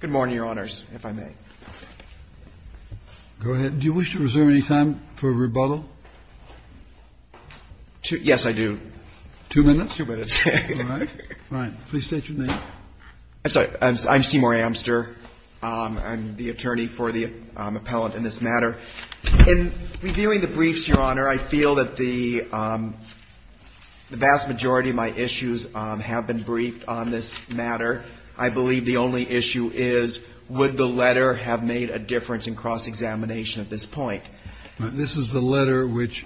Good morning, Your Honors, if I may. Go ahead. Do you wish to reserve any time for rebuttal? Yes, I do. Two minutes? Two minutes. All right. Please state your name. I'm sorry. I'm Seymour Amster. I'm the attorney for the appellant in this matter. In reviewing the briefs, Your Honor, I feel that the vast majority of my issues have been briefed on this matter. I believe the only issue is would the letter have made a difference in cross-examination at this point. This is the letter which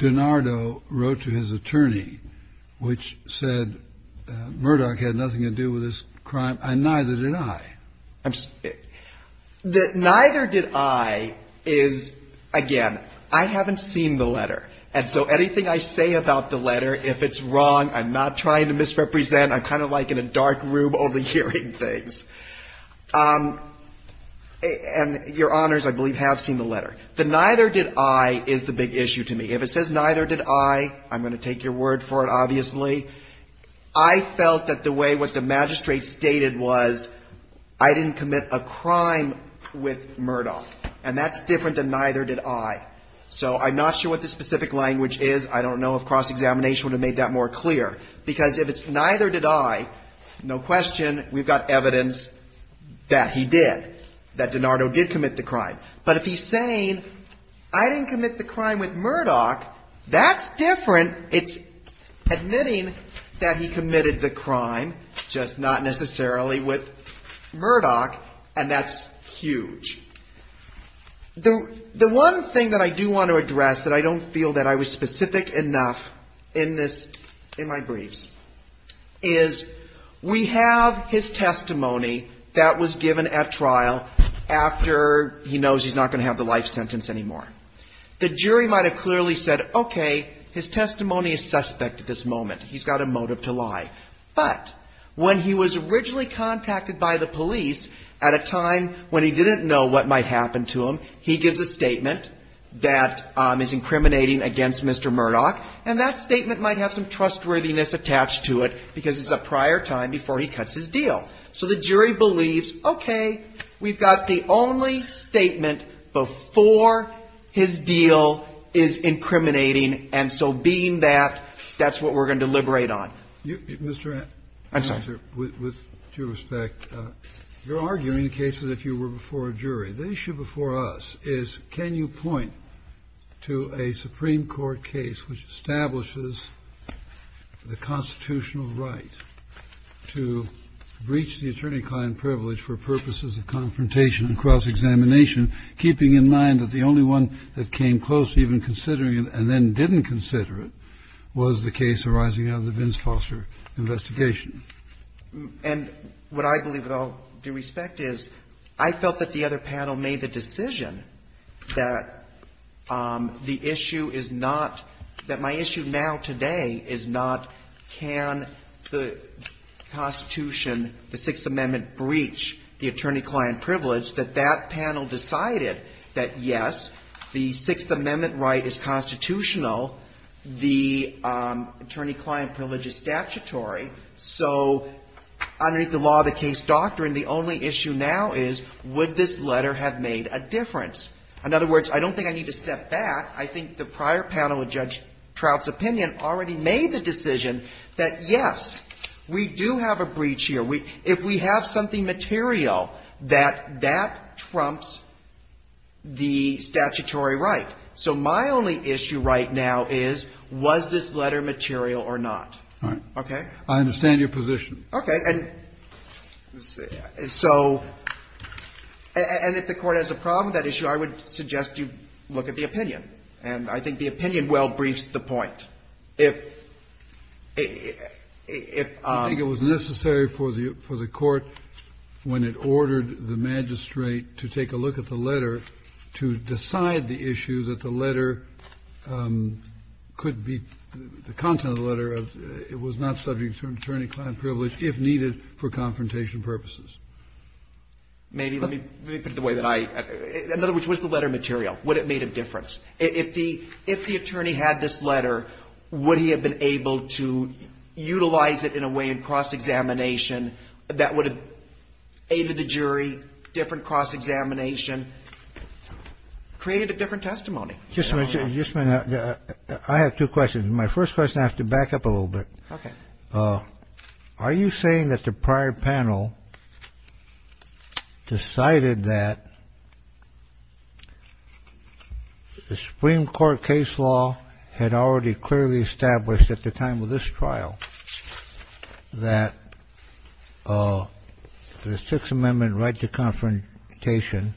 DiNardo wrote to his attorney, which said Murdoch had nothing to do with this crime, and neither did I. The neither did I is, again, I haven't seen the letter. And so anything I say about the letter, if it's wrong, I'm not trying to misrepresent. I'm kind of like in a dark room overhearing things. And Your Honors, I believe, have seen the letter. The neither did I is the big issue to me. If it says neither did I, I'm going to take your word for it, obviously. I felt that the way what the magistrate stated was I didn't commit a crime with Murdoch. And that's different than neither did I. So I'm not sure what the specific language is. I don't know if cross-examination would have made that more clear. Because if it's neither did I, no question, we've got evidence that he did, that DiNardo did commit the crime. But if he's saying I didn't commit the crime with Murdoch, that's different. It's admitting that he committed the crime, just not necessarily with Murdoch, and that's huge. The one thing that I do want to address that I don't feel that I was specific enough in this, in my briefs, is we have his testimony that was given at trial after he knows he's not going to have the life sentence anymore. The jury might have clearly said, okay, his testimony is suspect at this moment. He's got a motive to lie. But when he was originally contacted by the police at a time when he didn't know what might happen to him, he gives a statement that is incriminating against Mr. Murdoch. And that statement might have some trustworthiness attached to it, because it's a prior time before he cuts his deal. So the jury believes, okay, we've got the only statement before his deal is incriminating. And so being that, that's what we're going to deliberate on. Kennedy. I'm sorry. Kennedy. With due respect, you're arguing the case as if you were before a jury. The issue before us is, can you point to a Supreme Court case which establishes the constitutional right to breach the attorney-client privilege for purposes of confrontation and cross-examination, keeping in mind that the only one that came close to even considering it and then didn't consider it was the case arising out of the Vince Foster investigation? And what I believe, with all due respect, is I felt that the other panel made the decision that the issue is not that my issue now today is not can the Constitution, the Sixth Amendment, breach the attorney-client privilege, that that panel decided that, yes, the Sixth Amendment right is constitutional, the attorney-client privilege is statutory. So underneath the law of the case doctrine, the only issue now is, would this letter have made a difference? In other words, I don't think I need to step back. I think the prior panel of Judge Trout's opinion already made the decision that, yes, we do have a breach here. If we have something material, that that trumps the statutory right. So my only issue right now is, was this letter material or not? Okay? I understand your position. Okay. And so, and if the Court has a problem with that issue, I would suggest you look at the opinion. And I think the opinion well briefs the point. If, if, if, if, if, the content of the letter was not subject to attorney-client privilege, if needed for confrontation purposes. Maybe. Let me put it the way that I, in other words, what is the letter material? Would it have made a difference? If the, if the attorney had this letter, would he have been able to utilize it in a way in cross-examination that would have aided the jury, different cross-examination, created a different testimony? Just a minute. Just a minute. I have two questions. My first question, I have to back up a little bit. Okay. Are you saying that the prior panel decided that the Supreme Court case law had already clearly established at the time of this trial that the Sixth Amendment right to confrontation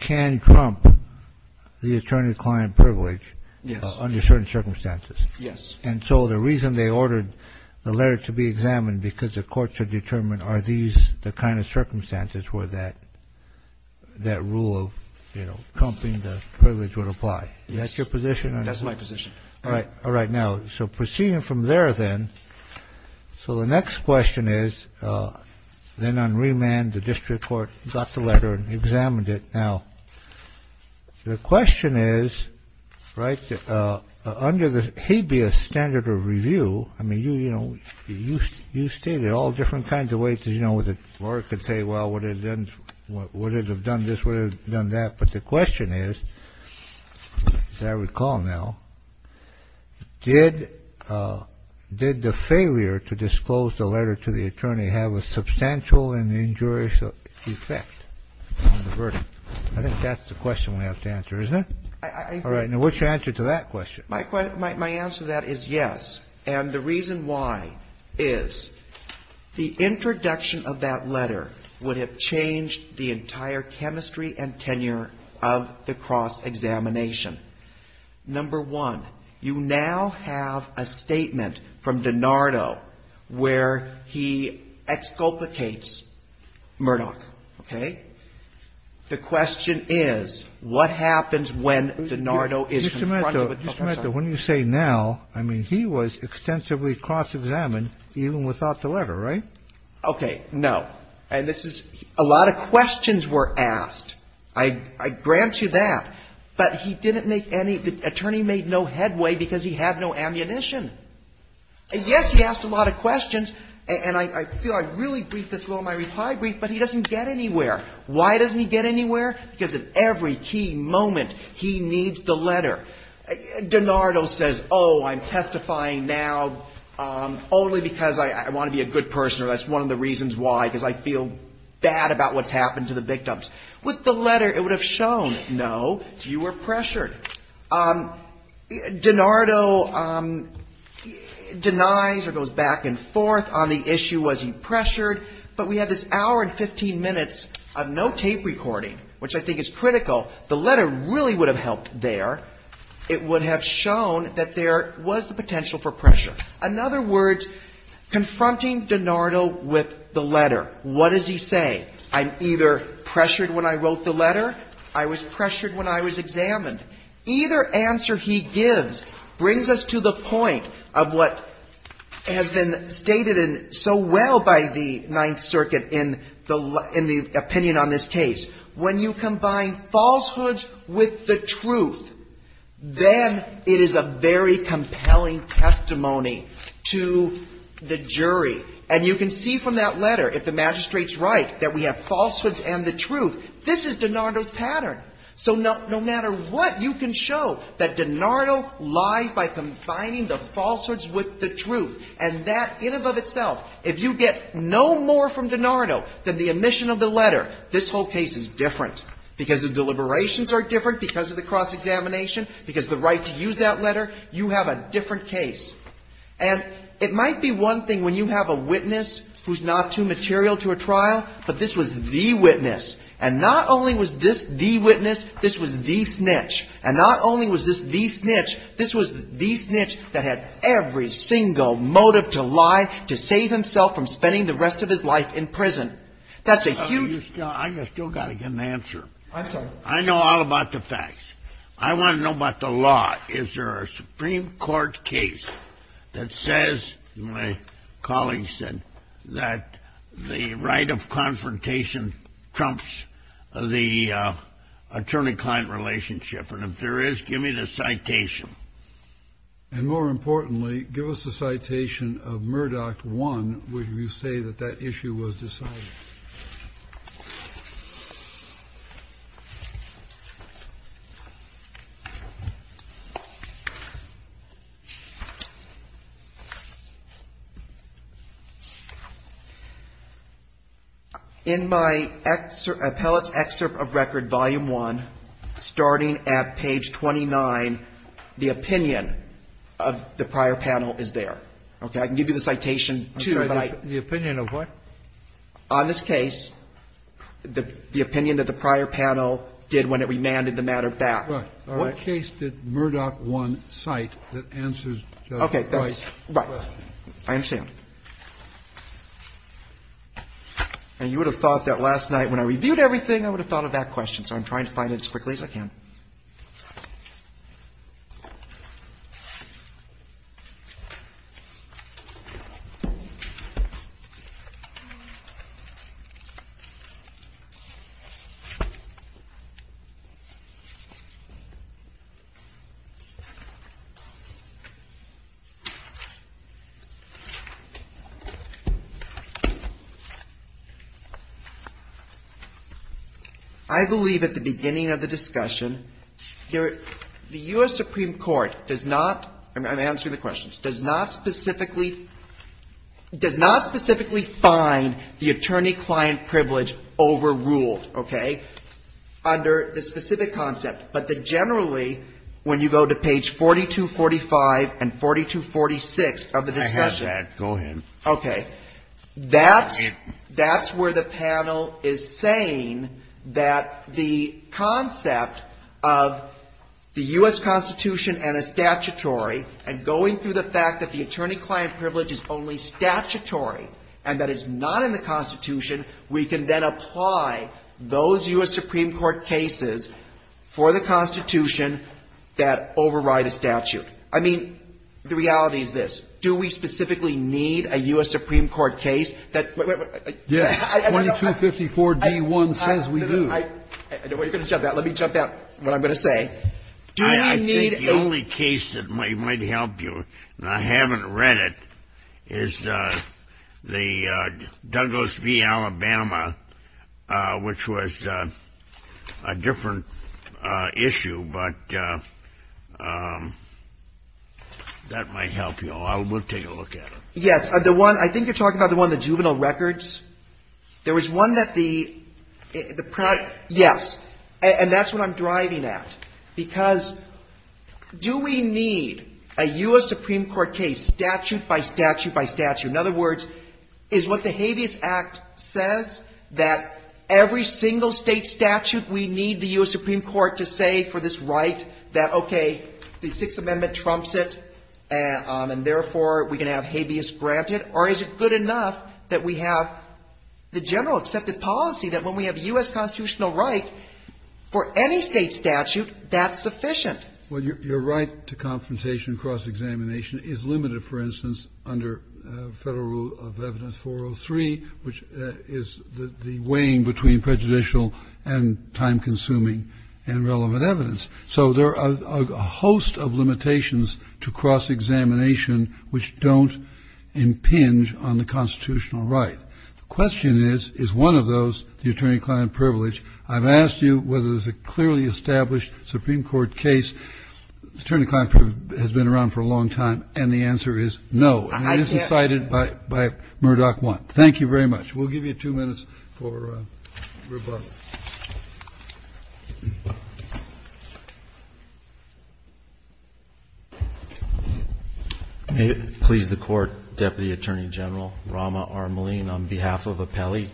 can trump the attorney-client privilege under certain circumstances? Yes. And so the reason they ordered the letter to be examined because the courts had determined are these the kind of circumstances where that, that rule of, you know, trumping the privilege would apply? That's your position? That's my position. All right. All right. Now, so proceeding from there, then. So the next question is, then on remand, the district court got the letter and examined it. Now, the question is, right. Under the habeas standard of review, I mean, you, you know, you, you stated all different kinds of ways, you know, I don't know whether Laura could say, well, would it have done this, would it have done that? But the question is, as I recall now, did the failure to disclose the letter to the attorney have a substantial and injurious effect on the verdict? I think that's the question we have to answer, isn't it? I agree. All right. Now, what's your answer to that question? My answer to that is yes. And the reason why is the introduction of that letter would have changed the entire chemistry and tenure of the cross-examination. Number one, you now have a statement from DiNardo where he exculpates Murdoch. Okay? The question is, what happens when DiNardo is in front of a prosecutor? Mr. Mehta, when you say now, I mean, he was extensively cross-examined even without the letter, right? Okay. No. And this is, a lot of questions were asked. I grant you that. But he didn't make any, the attorney made no headway because he had no ammunition. And yes, he asked a lot of questions, and I feel I really briefed this well in my reply brief, but he doesn't get anywhere. Why doesn't he get anywhere? Because at every key moment, he needs the letter. DiNardo says, oh, I'm testifying now only because I want to be a good person, or that's one of the reasons why, because I feel bad about what's happened to the victims. With the letter, it would have shown, no, you were pressured. DiNardo denies or goes back and forth on the issue, was he pressured? But we had this hour and 15 minutes of no tape recording, which I think is critical. The letter really would have helped there. It would have shown that there was the potential for pressure. In other words, confronting DiNardo with the letter, what does he say? I'm either pressured when I wrote the letter, I was pressured when I was examined. Either answer he gives brings us to the point of what has been stated so well by the Ninth Circuit in the opinion on this case. When you combine falsehoods with the truth, then it is a very compelling testimony to the jury. And you can see from that letter, if the magistrate's right, that we have falsehoods and the truth, this is DiNardo's pattern. So no matter what, you can show that DiNardo lies by combining the falsehoods with the truth. And that in and of itself, if you get no more from DiNardo than the omission of the letter, this whole case is different. Because the deliberations are different, because of the cross-examination, because of the right to use that letter, you have a different case. And it might be one thing when you have a witness who's not too material to a trial, but this was the witness. And not only was this the witness, this was the snitch. And not only was this the snitch, this was the snitch that had every single motive to lie, to save himself from spending the rest of his life in prison. That's a huge... I've still got to get an answer. I'm sorry. I know all about the facts. I want to know about the law. Is there a Supreme Court case that says, my colleague said, that the right of confrontation trumps the attorney-client relationship? And if there is, give me the citation. And more importantly, give us the citation of Murdoch 1, where you say that that issue was decided. In my appellate's excerpt of record, volume 1, starting at page 29, Murdoch 1 states, the opinion of the prior panel is there. Okay? I can give you the citation, too, but I... The opinion of what? On this case, the opinion that the prior panel did when it remanded the matter back. Right. All right. What case did Murdoch 1 cite that answers Judge's question? Right. I understand. And you would have thought that last night when I reviewed everything, I would have thought of that question, so I'm trying to find it as quickly as I can. All right. The U.S. Supreme Court does not — I'm answering the questions. Does not specifically — does not specifically find the attorney-client privilege overruled, okay, under the specific concept. But generally, when you go to page 4245 and 4246 of the discussion... I have that. Go ahead. Okay. That's — that's where the panel is saying that the concept of the U.S. Constitution and a statutory, and going through the fact that the attorney-client privilege is only statutory and that it's not in the Constitution, we can then apply those U.S. Supreme Court cases for the Constitution that override a statute. I mean, the reality is this. Do we specifically need a U.S. Supreme Court case that — Yes. 2254d1 says we do. I know what you're going to jump at. Let me jump at what I'm going to say. Do we need a... I think the only case that might help you, and I haven't read it, is the Douglas v. Alabama, which was a different issue. But that might help you. We'll take a look at it. Yes. The one — I think you're talking about the one, the juvenile records. There was one that the — yes. And that's what I'm driving at. Because do we need a U.S. Supreme Court case statute by statute by statute? In other words, is what the Habeas Act says that every single State statute we need the U.S. Supreme Court to say for this right that, okay, the Sixth Amendment trumps it, and therefore we can have habeas granted? Or is it good enough that we have the general accepted policy that when we have U.S. constitutional right for any State statute, that's sufficient? Well, your right to confrontation and cross-examination is limited, for instance, under Federal Rule of Evidence 403, which is the weighing between prejudicial and time-consuming and relevant evidence. So there are a host of limitations to cross-examination which don't impinge on the constitutional right. The question is, is one of those the attorney-client privilege? I've asked you whether there's a clearly established Supreme Court case. The attorney-client privilege has been around for a long time, and the answer is no. And it isn't cited by Murdoch 1. Thank you very much. We'll give you two minutes for rebuttal. Please, the Court. Deputy Attorney General Rama R. Maleen, on behalf of Appelli,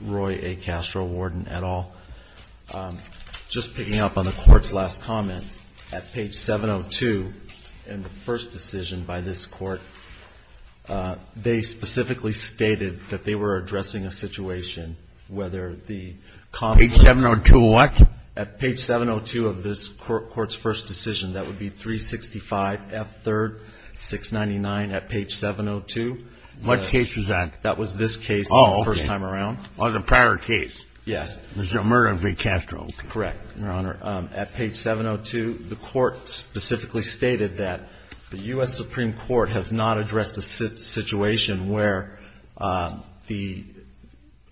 Roy A. Castro, and Mr. Warden et al., just picking up on the Court's last comment, at page 702 in the first decision by this Court, they specifically stated that they were addressing a situation whether the conference of this Court's first decision, that would be 365 F. 3rd, 699 at page 702. What case was that? That was this case the first time around. Oh, the prior case. Yes. The murder of Ray Castro. Correct, Your Honor. At page 702, the Court specifically stated that the U.S. Supreme Court has not addressed a situation where the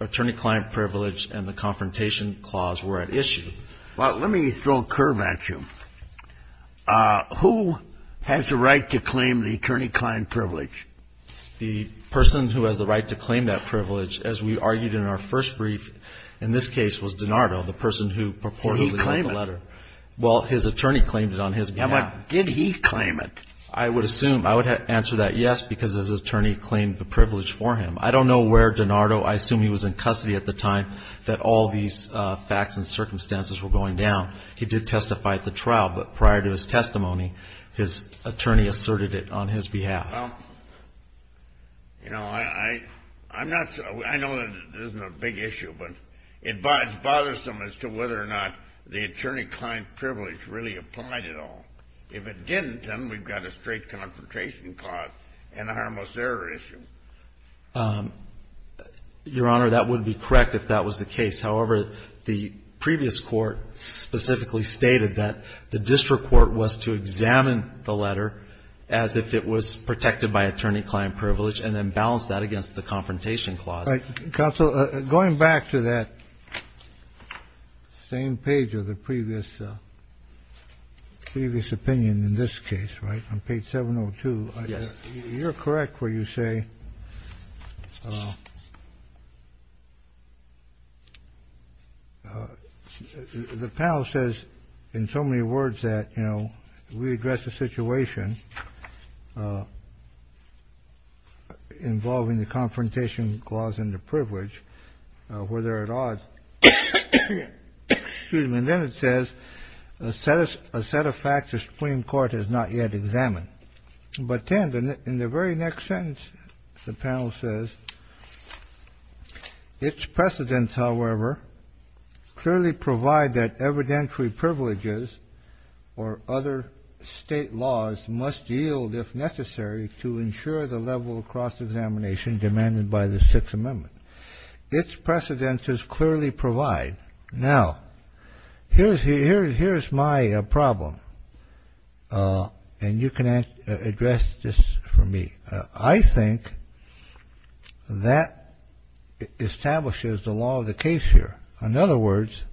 attorney-client privilege and the confrontation clause were at issue. Well, let me throw a curve at you. Who has the right to claim the attorney-client privilege? The person who has the right to claim that privilege, as we argued in our first brief in this case, was DiNardo, the person who purportedly wrote the letter. Did he claim it? Well, his attorney claimed it on his behalf. Yeah, but did he claim it? I would assume. I would answer that yes, because his attorney claimed the privilege for him. I don't know where DiNardo, I assume he was in custody at the time that all these facts and circumstances were going down. He did testify at the trial. But prior to his testimony, his attorney asserted it on his behalf. Well, you know, I'm not so – I know it isn't a big issue, but it's bothersome as to whether or not the attorney-client privilege really applied at all. If it didn't, then we've got a straight confrontation clause and a harmless error issue. Your Honor, that would be correct if that was the case. However, the previous Court specifically stated that the district court was to examine the letter as if it was protected by attorney-client privilege and then balance that against the confrontation clause. Counsel, going back to that same page of the previous opinion in this case, right, on page 702. Yes. Your Honor, you're correct where you say – the panel says in so many words that, you know, we address a situation involving the confrontation clause and the privilege where there are odds. And then it says a set of facts the Supreme Court has not yet examined. But then in the very next sentence, the panel says, its precedents, however, clearly provide that evidentiary privileges or other state laws must yield, if necessary, to ensure the level of cross-examination demanded by the Sixth Amendment. Its precedents clearly provide. Now, here's my problem, and you can address this for me. I think that establishes the law of the case here. In other words,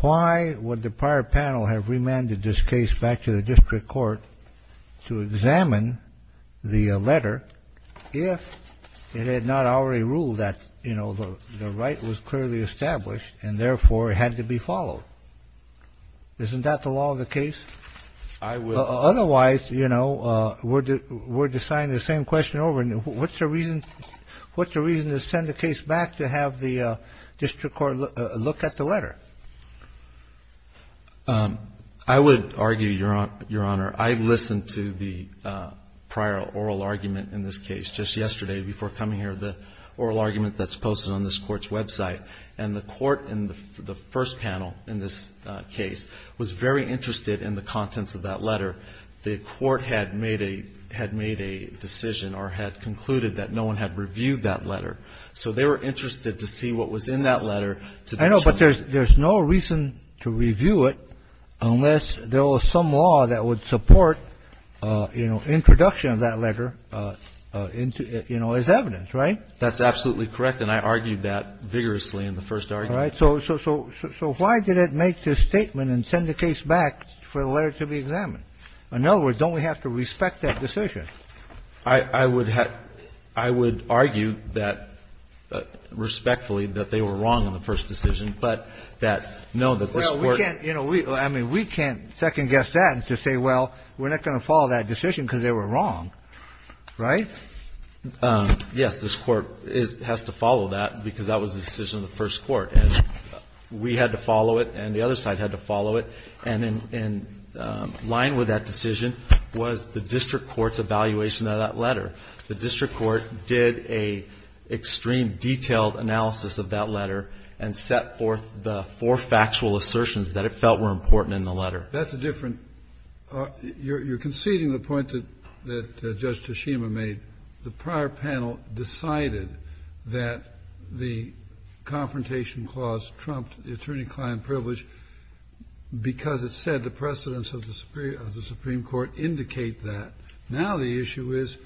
why would the prior panel have remanded this case back to the district court to examine the letter if it had not already ruled that, you know, the right was clearly established and, therefore, it had to be followed? Isn't that the law of the case? I would – Otherwise, you know, we're deciding the same question over. And what's the reason to send the case back to have the district court look at the letter? I would argue, Your Honor, I listened to the prior oral argument in this case just yesterday before coming here, the oral argument that's posted on this Court's website. And the Court in the first panel in this case was very interested in the contents of that letter. The Court had made a decision or had concluded that no one had reviewed that letter. So they were interested to see what was in that letter. I know, but there's no reason to review it unless there was some law that would support, you know, introduction of that letter, you know, as evidence, right? That's absolutely correct. And I argued that vigorously in the first argument. All right. So why did it make this statement and send the case back for the letter to be examined? In other words, don't we have to respect that decision? I would argue that respectfully, that they were wrong in the first decision, but that, no, that this Court can't. Well, we can't, you know, I mean, we can't second-guess that and just say, well, we're not going to follow that decision because they were wrong, right? Yes, this Court has to follow that because that was the decision of the first Court. And we had to follow it and the other side had to follow it. And in line with that decision was the district court's evaluation of that letter. The district court did a extreme detailed analysis of that letter and set forth the four factual assertions that it felt were important in the letter. That's a different – you're conceding the point that Judge Toshima made. The prior panel decided that the Confrontation Clause trumped the attorney-client privilege because it said the precedence of the Supreme Court indicate that. Now the issue is,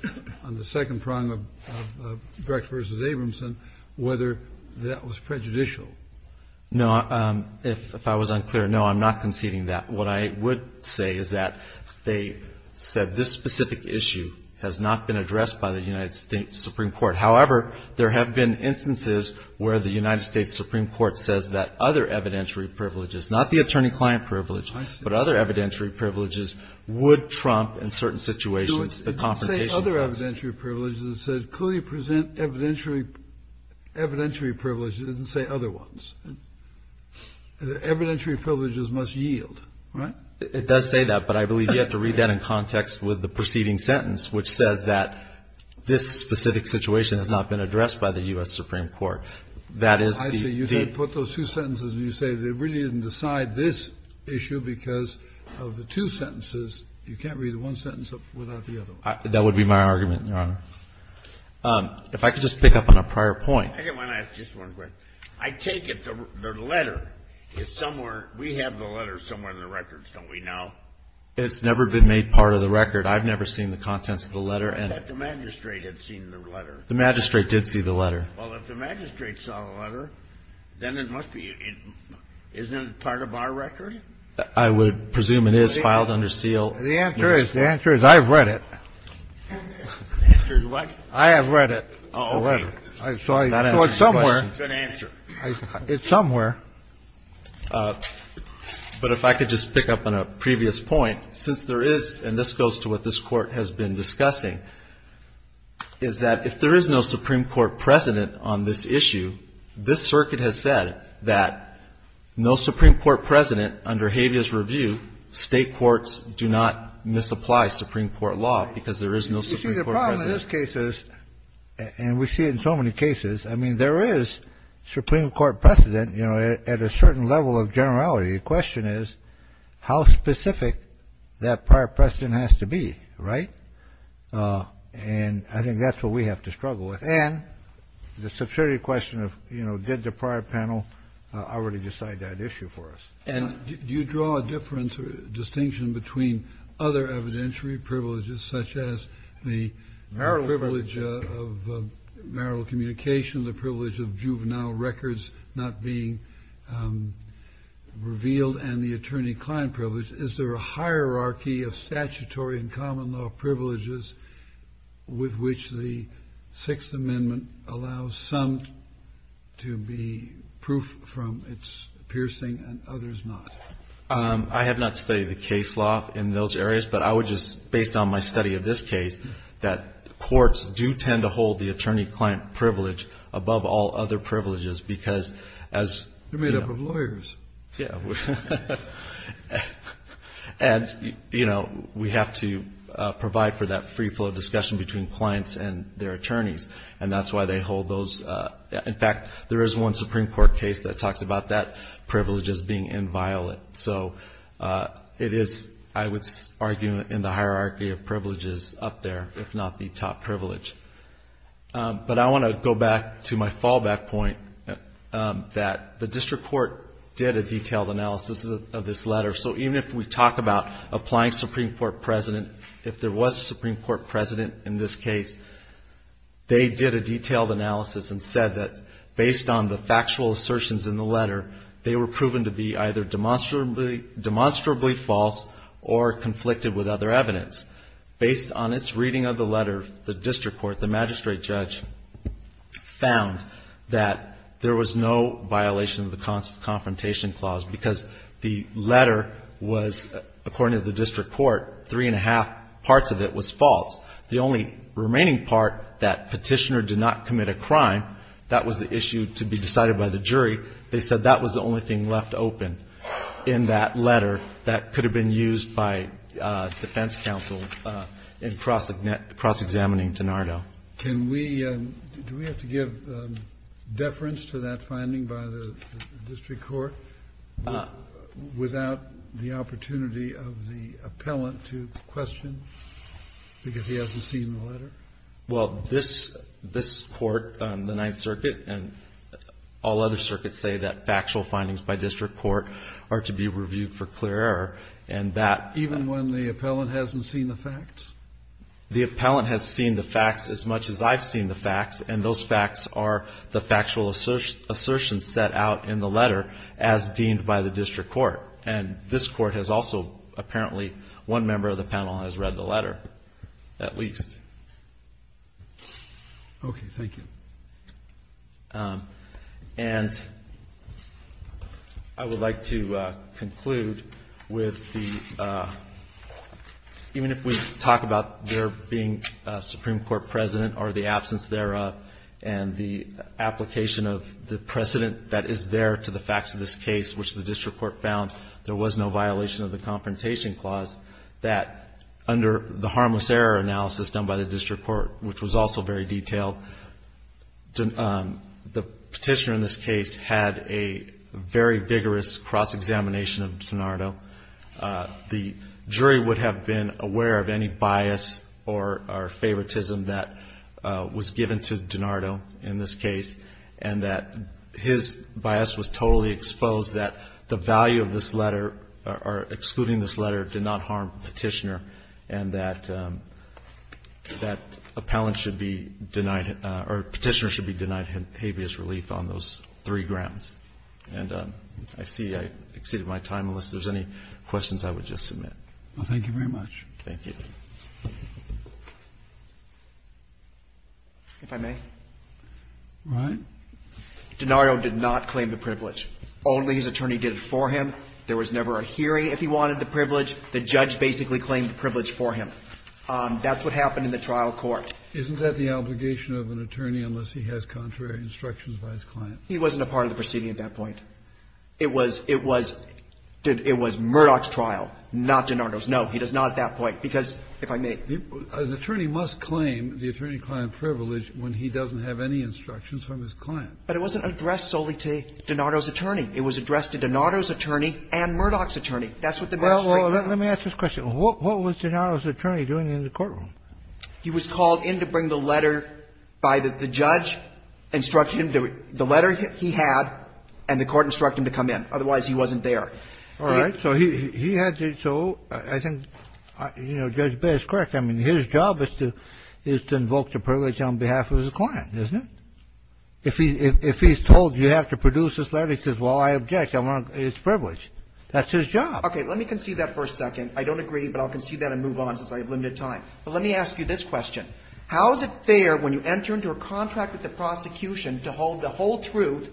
on the second prong of Brecht v. Abramson, whether that was prejudicial. No. If I was unclear, no, I'm not conceding that. What I would say is that they said this specific issue has not been addressed by the United States Supreme Court. However, there have been instances where the United States Supreme Court says that other evidentiary privileges, not the attorney-client privilege, but other evidentiary privileges would trump in certain situations the Confrontation Clause. It didn't say other evidentiary privileges. It said clearly present evidentiary privileges. It didn't say other ones. Evidentiary privileges must yield, right? It does say that, but I believe you have to read that in context with the preceding sentence, which says that this specific situation has not been addressed by the U.S. Supreme Court. That is the debt. I see. You didn't put those two sentences and you say they really didn't decide this issue because of the two sentences. You can't read one sentence without the other one. That would be my argument, Your Honor. If I could just pick up on a prior point. I just want to ask just one question. I take it the letter is somewhere, we have the letter somewhere in the records, don't we now? It's never been made part of the record. I've never seen the contents of the letter. I thought the magistrate had seen the letter. The magistrate did see the letter. Well, if the magistrate saw the letter, then it must be, isn't it part of our record? I would presume it is filed under seal. The answer is, the answer is I have read it. The answer is what? I have read it, the letter. Oh, okay. So it's somewhere. It's an answer. It's somewhere. But if I could just pick up on a previous point, since there is, and this goes to what this Court has been discussing, is that if there is no Supreme Court precedent on this issue, this Circuit has said that no Supreme Court precedent under Havia's review, State courts do not misapply Supreme Court law because there is no Supreme Court precedent. You see, the problem in this case is, and we see it in so many cases, I mean, there is Supreme Court precedent, you know, at a certain level of generality. The question is, how specific that prior precedent has to be, right? And I think that's what we have to struggle with. And the subservient question of, you know, did the prior panel already decide that issue for us? And do you draw a difference or distinction between other evidentiary privileges, such as the privilege of marital communication, the privilege of juvenile records not being revealed, and the attorney-client privilege? Is there a hierarchy of statutory and common-law privileges with which the Sixth Amendment allows some to be proof from its piercing and others not? I have not studied the case law in those areas, but I would just, based on my study of this case, that courts do tend to hold the attorney-client privilege above all other privileges. They're made up of lawyers. Yeah. And, you know, we have to provide for that free flow of discussion between clients and their attorneys, and that's why they hold those. In fact, there is one Supreme Court case that talks about that privilege as being inviolate. So it is, I would argue, in the hierarchy of privileges up there, if not the top privilege. But I want to go back to my fallback point, that the district court did a detailed analysis of this letter. So even if we talk about applying Supreme Court precedent, if there was a Supreme Court precedent in this case, they did a detailed analysis and said that based on the factual assertions in the letter, they were proven to be either demonstrably false or conflicted with other evidence. Based on its reading of the letter, the district court, the magistrate judge, found that there was no violation of the confrontation clause because the letter was, according to the district court, three-and-a-half parts of it was false. The only remaining part, that Petitioner did not commit a crime, that was the issue to be decided by the jury. They said that was the only thing left open in that letter that could have been used by the defense counsel in cross-examining DiNardo. Kennedy. Do we have to give deference to that finding by the district court without the opportunity of the appellant to question because he hasn't seen the letter? Well, this Court, the Ninth Circuit and all other circuits say that factual findings by district court are to be reviewed for clear error. And that Even when the appellant hasn't seen the facts? The appellant has seen the facts as much as I've seen the facts, and those facts are the factual assertions set out in the letter as deemed by the district court. And this Court has also apparently one member of the panel has read the letter at least. Okay. Thank you. And I would like to conclude with the, even if we talk about there being a Supreme Court president or the absence thereof and the application of the precedent that is there to the facts of this case, which the district court found there was no violation of the Confrontation Clause, that under the harmless error analysis done by the district court, which was also very detailed, the Petitioner in this case had a very vigorous cross-examination of DiNardo. The jury would have been aware of any bias or favoritism that was given to DiNardo in this case, and that his bias was totally exposed, that the value of this letter or excluding this letter did not harm Petitioner, and that appellant should be denied or Petitioner should be denied habeas relief on those three grounds. And I see I exceeded my time, unless there's any questions I would just submit. Thank you very much. Thank you. If I may. Right. DiNardo did not claim the privilege. Only his attorney did it for him. There was never a hearing if he wanted the privilege. The judge basically claimed the privilege for him. That's what happened in the trial court. Isn't that the obligation of an attorney unless he has contrary instructions by his client? He wasn't a part of the proceeding at that point. It was Murdoch's trial, not DiNardo's. No, he does not at that point, because if I may. An attorney must claim the attorney-client privilege when he doesn't have any instructions from his client. But it wasn't addressed solely to DiNardo's attorney. It was addressed to DiNardo's attorney and Murdoch's attorney. That's what the matter is right now. Well, let me ask this question. What was DiNardo's attorney doing in the courtroom? He was called in to bring the letter by the judge, instructed him to do it. The letter he had, and the court instructed him to come in. Otherwise, he wasn't there. All right. So he had to do so. I think, you know, Judge Bitt is correct. I mean, his job is to invoke the privilege on behalf of his client, isn't it? If he's told you have to produce this letter, he says, well, I object. I want his privilege. That's his job. Okay. Let me concede that for a second. I don't agree, but I'll concede that and move on since I have limited time. But let me ask you this question. How is it fair when you enter into a contract with the prosecution to hold the whole truth,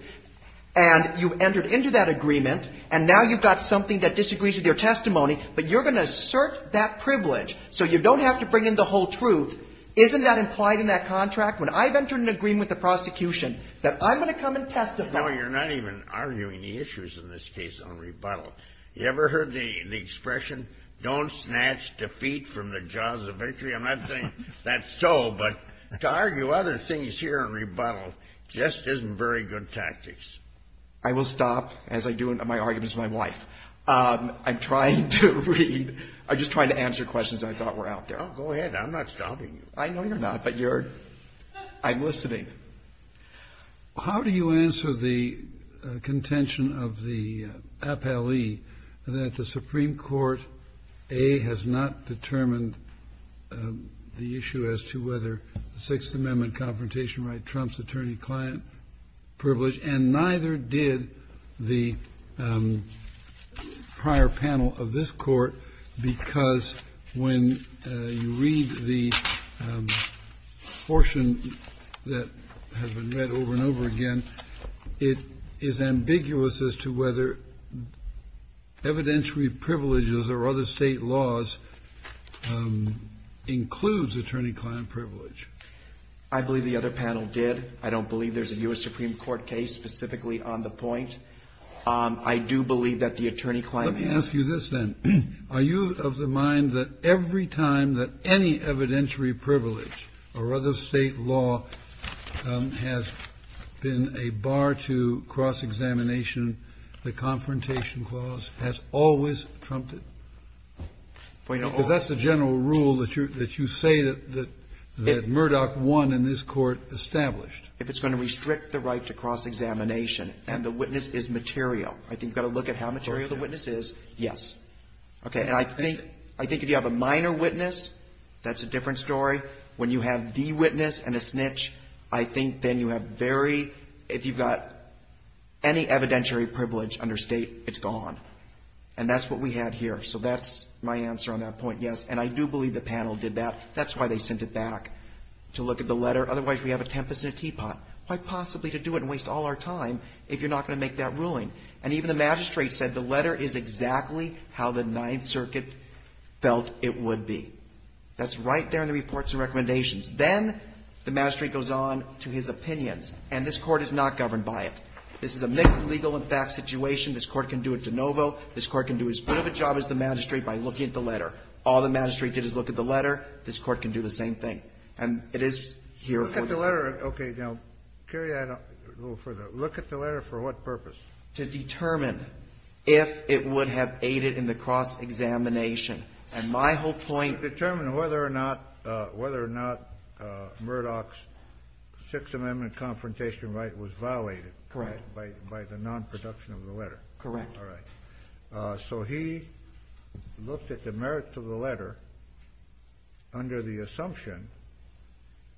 and you've entered into that agreement, and now you've got something that disagrees with your testimony, but you're going to assert that privilege so you don't have to bring in the whole truth? Isn't that implied in that contract? When I've entered into an agreement with the prosecution that I'm going to come and testify. No, you're not even arguing the issues in this case on rebuttal. You ever heard the expression, don't snatch defeat from the jaws of victory? I'm not saying that's so, but to argue other things here on rebuttal just isn't very good tactics. I will stop as I do in my arguments with my wife. I'm trying to read. I'm just trying to answer questions that I thought were out there. Oh, go ahead. I'm not stopping you. I know you're not, but you're – I'm listening. How do you answer the contention of the appellee that the Supreme Court, A, has not determined the issue as to whether the Sixth Amendment confrontation right trumps attorney-client privilege, and neither did the prior panel of this Court because when you read the portion that has been read over and over again, it is ambiguous as to whether evidentiary privileges or other state laws includes attorney-client privilege. I believe the other panel did. I don't believe there's a U.S. Supreme Court case specifically on the point. I do believe that the attorney-client has – Do you understand that every time that any evidentiary privilege or other state law has been a bar to cross-examination, the Confrontation Clause has always trumped it? Because that's the general rule that you say that Murdoch won in this Court established. If it's going to restrict the right to cross-examination and the witness is material, I think you've got to look at how material the witness is, yes. Okay. And I think if you have a minor witness, that's a different story. When you have the witness and a snitch, I think then you have very – if you've got any evidentiary privilege under state, it's gone. And that's what we had here. So that's my answer on that point, yes. And I do believe the panel did that. That's why they sent it back, to look at the letter. Otherwise, we have a tempest in a teapot. And even the magistrate said the letter is exactly how the Ninth Circuit felt it would be. That's right there in the reports and recommendations. Then the magistrate goes on to his opinions. And this Court is not governed by it. This is a mixed legal and facts situation. This Court can do it de novo. This Court can do as good of a job as the magistrate by looking at the letter. All the magistrate did is look at the letter. This Court can do the same thing. And it is here for the law. Kennedy. Okay. Now, Kerry, I don't go further. Look at the letter for what purpose? To determine if it would have aided in the cross-examination. And my whole point to determine whether or not Murdoch's Sixth Amendment confrontation right was violated. Correct. By the nonproduction of the letter. Correct. All right. So he looked at the merits of the letter under the assumption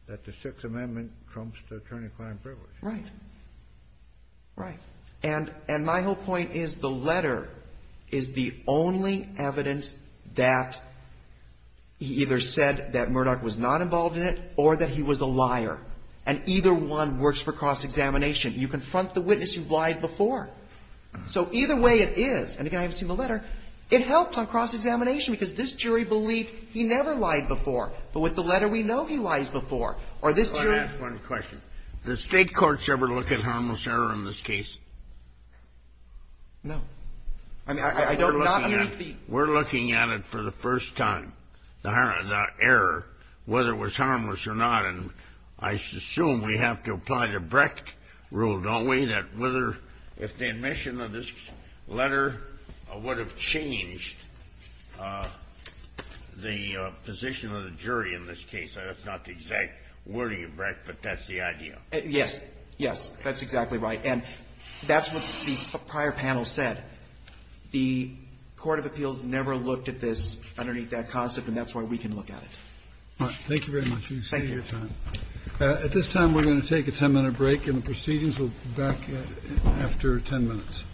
that the Sixth Amendment trumps the attorney-client privilege. Right. Right. And my whole point is the letter is the only evidence that he either said that Murdoch was not involved in it or that he was a liar. And either one works for cross-examination. You confront the witness, you've lied before. So either way it is, and again, I haven't seen the letter, it helps on cross-examination because this jury believed he never lied before. But with the letter, we know he lies before. Or this jury — I just want to ask one question. Does State courts ever look at harmless error in this case? No. I mean, I don't — We're looking at it. We're looking at it for the first time, the error, whether it was harmless or not. And I assume we have to apply the Brecht rule, don't we, that whether — if the admission of this letter would have changed the position of the jury in this case. That's not the exact wording of Brecht, but that's the idea. Yes. Yes. That's exactly right. And that's what the prior panel said. The court of appeals never looked at this underneath that concept, and that's why we can look at it. Thank you very much. Thank you. At this time, we're going to take a ten-minute break in the proceedings. We'll be back after ten minutes.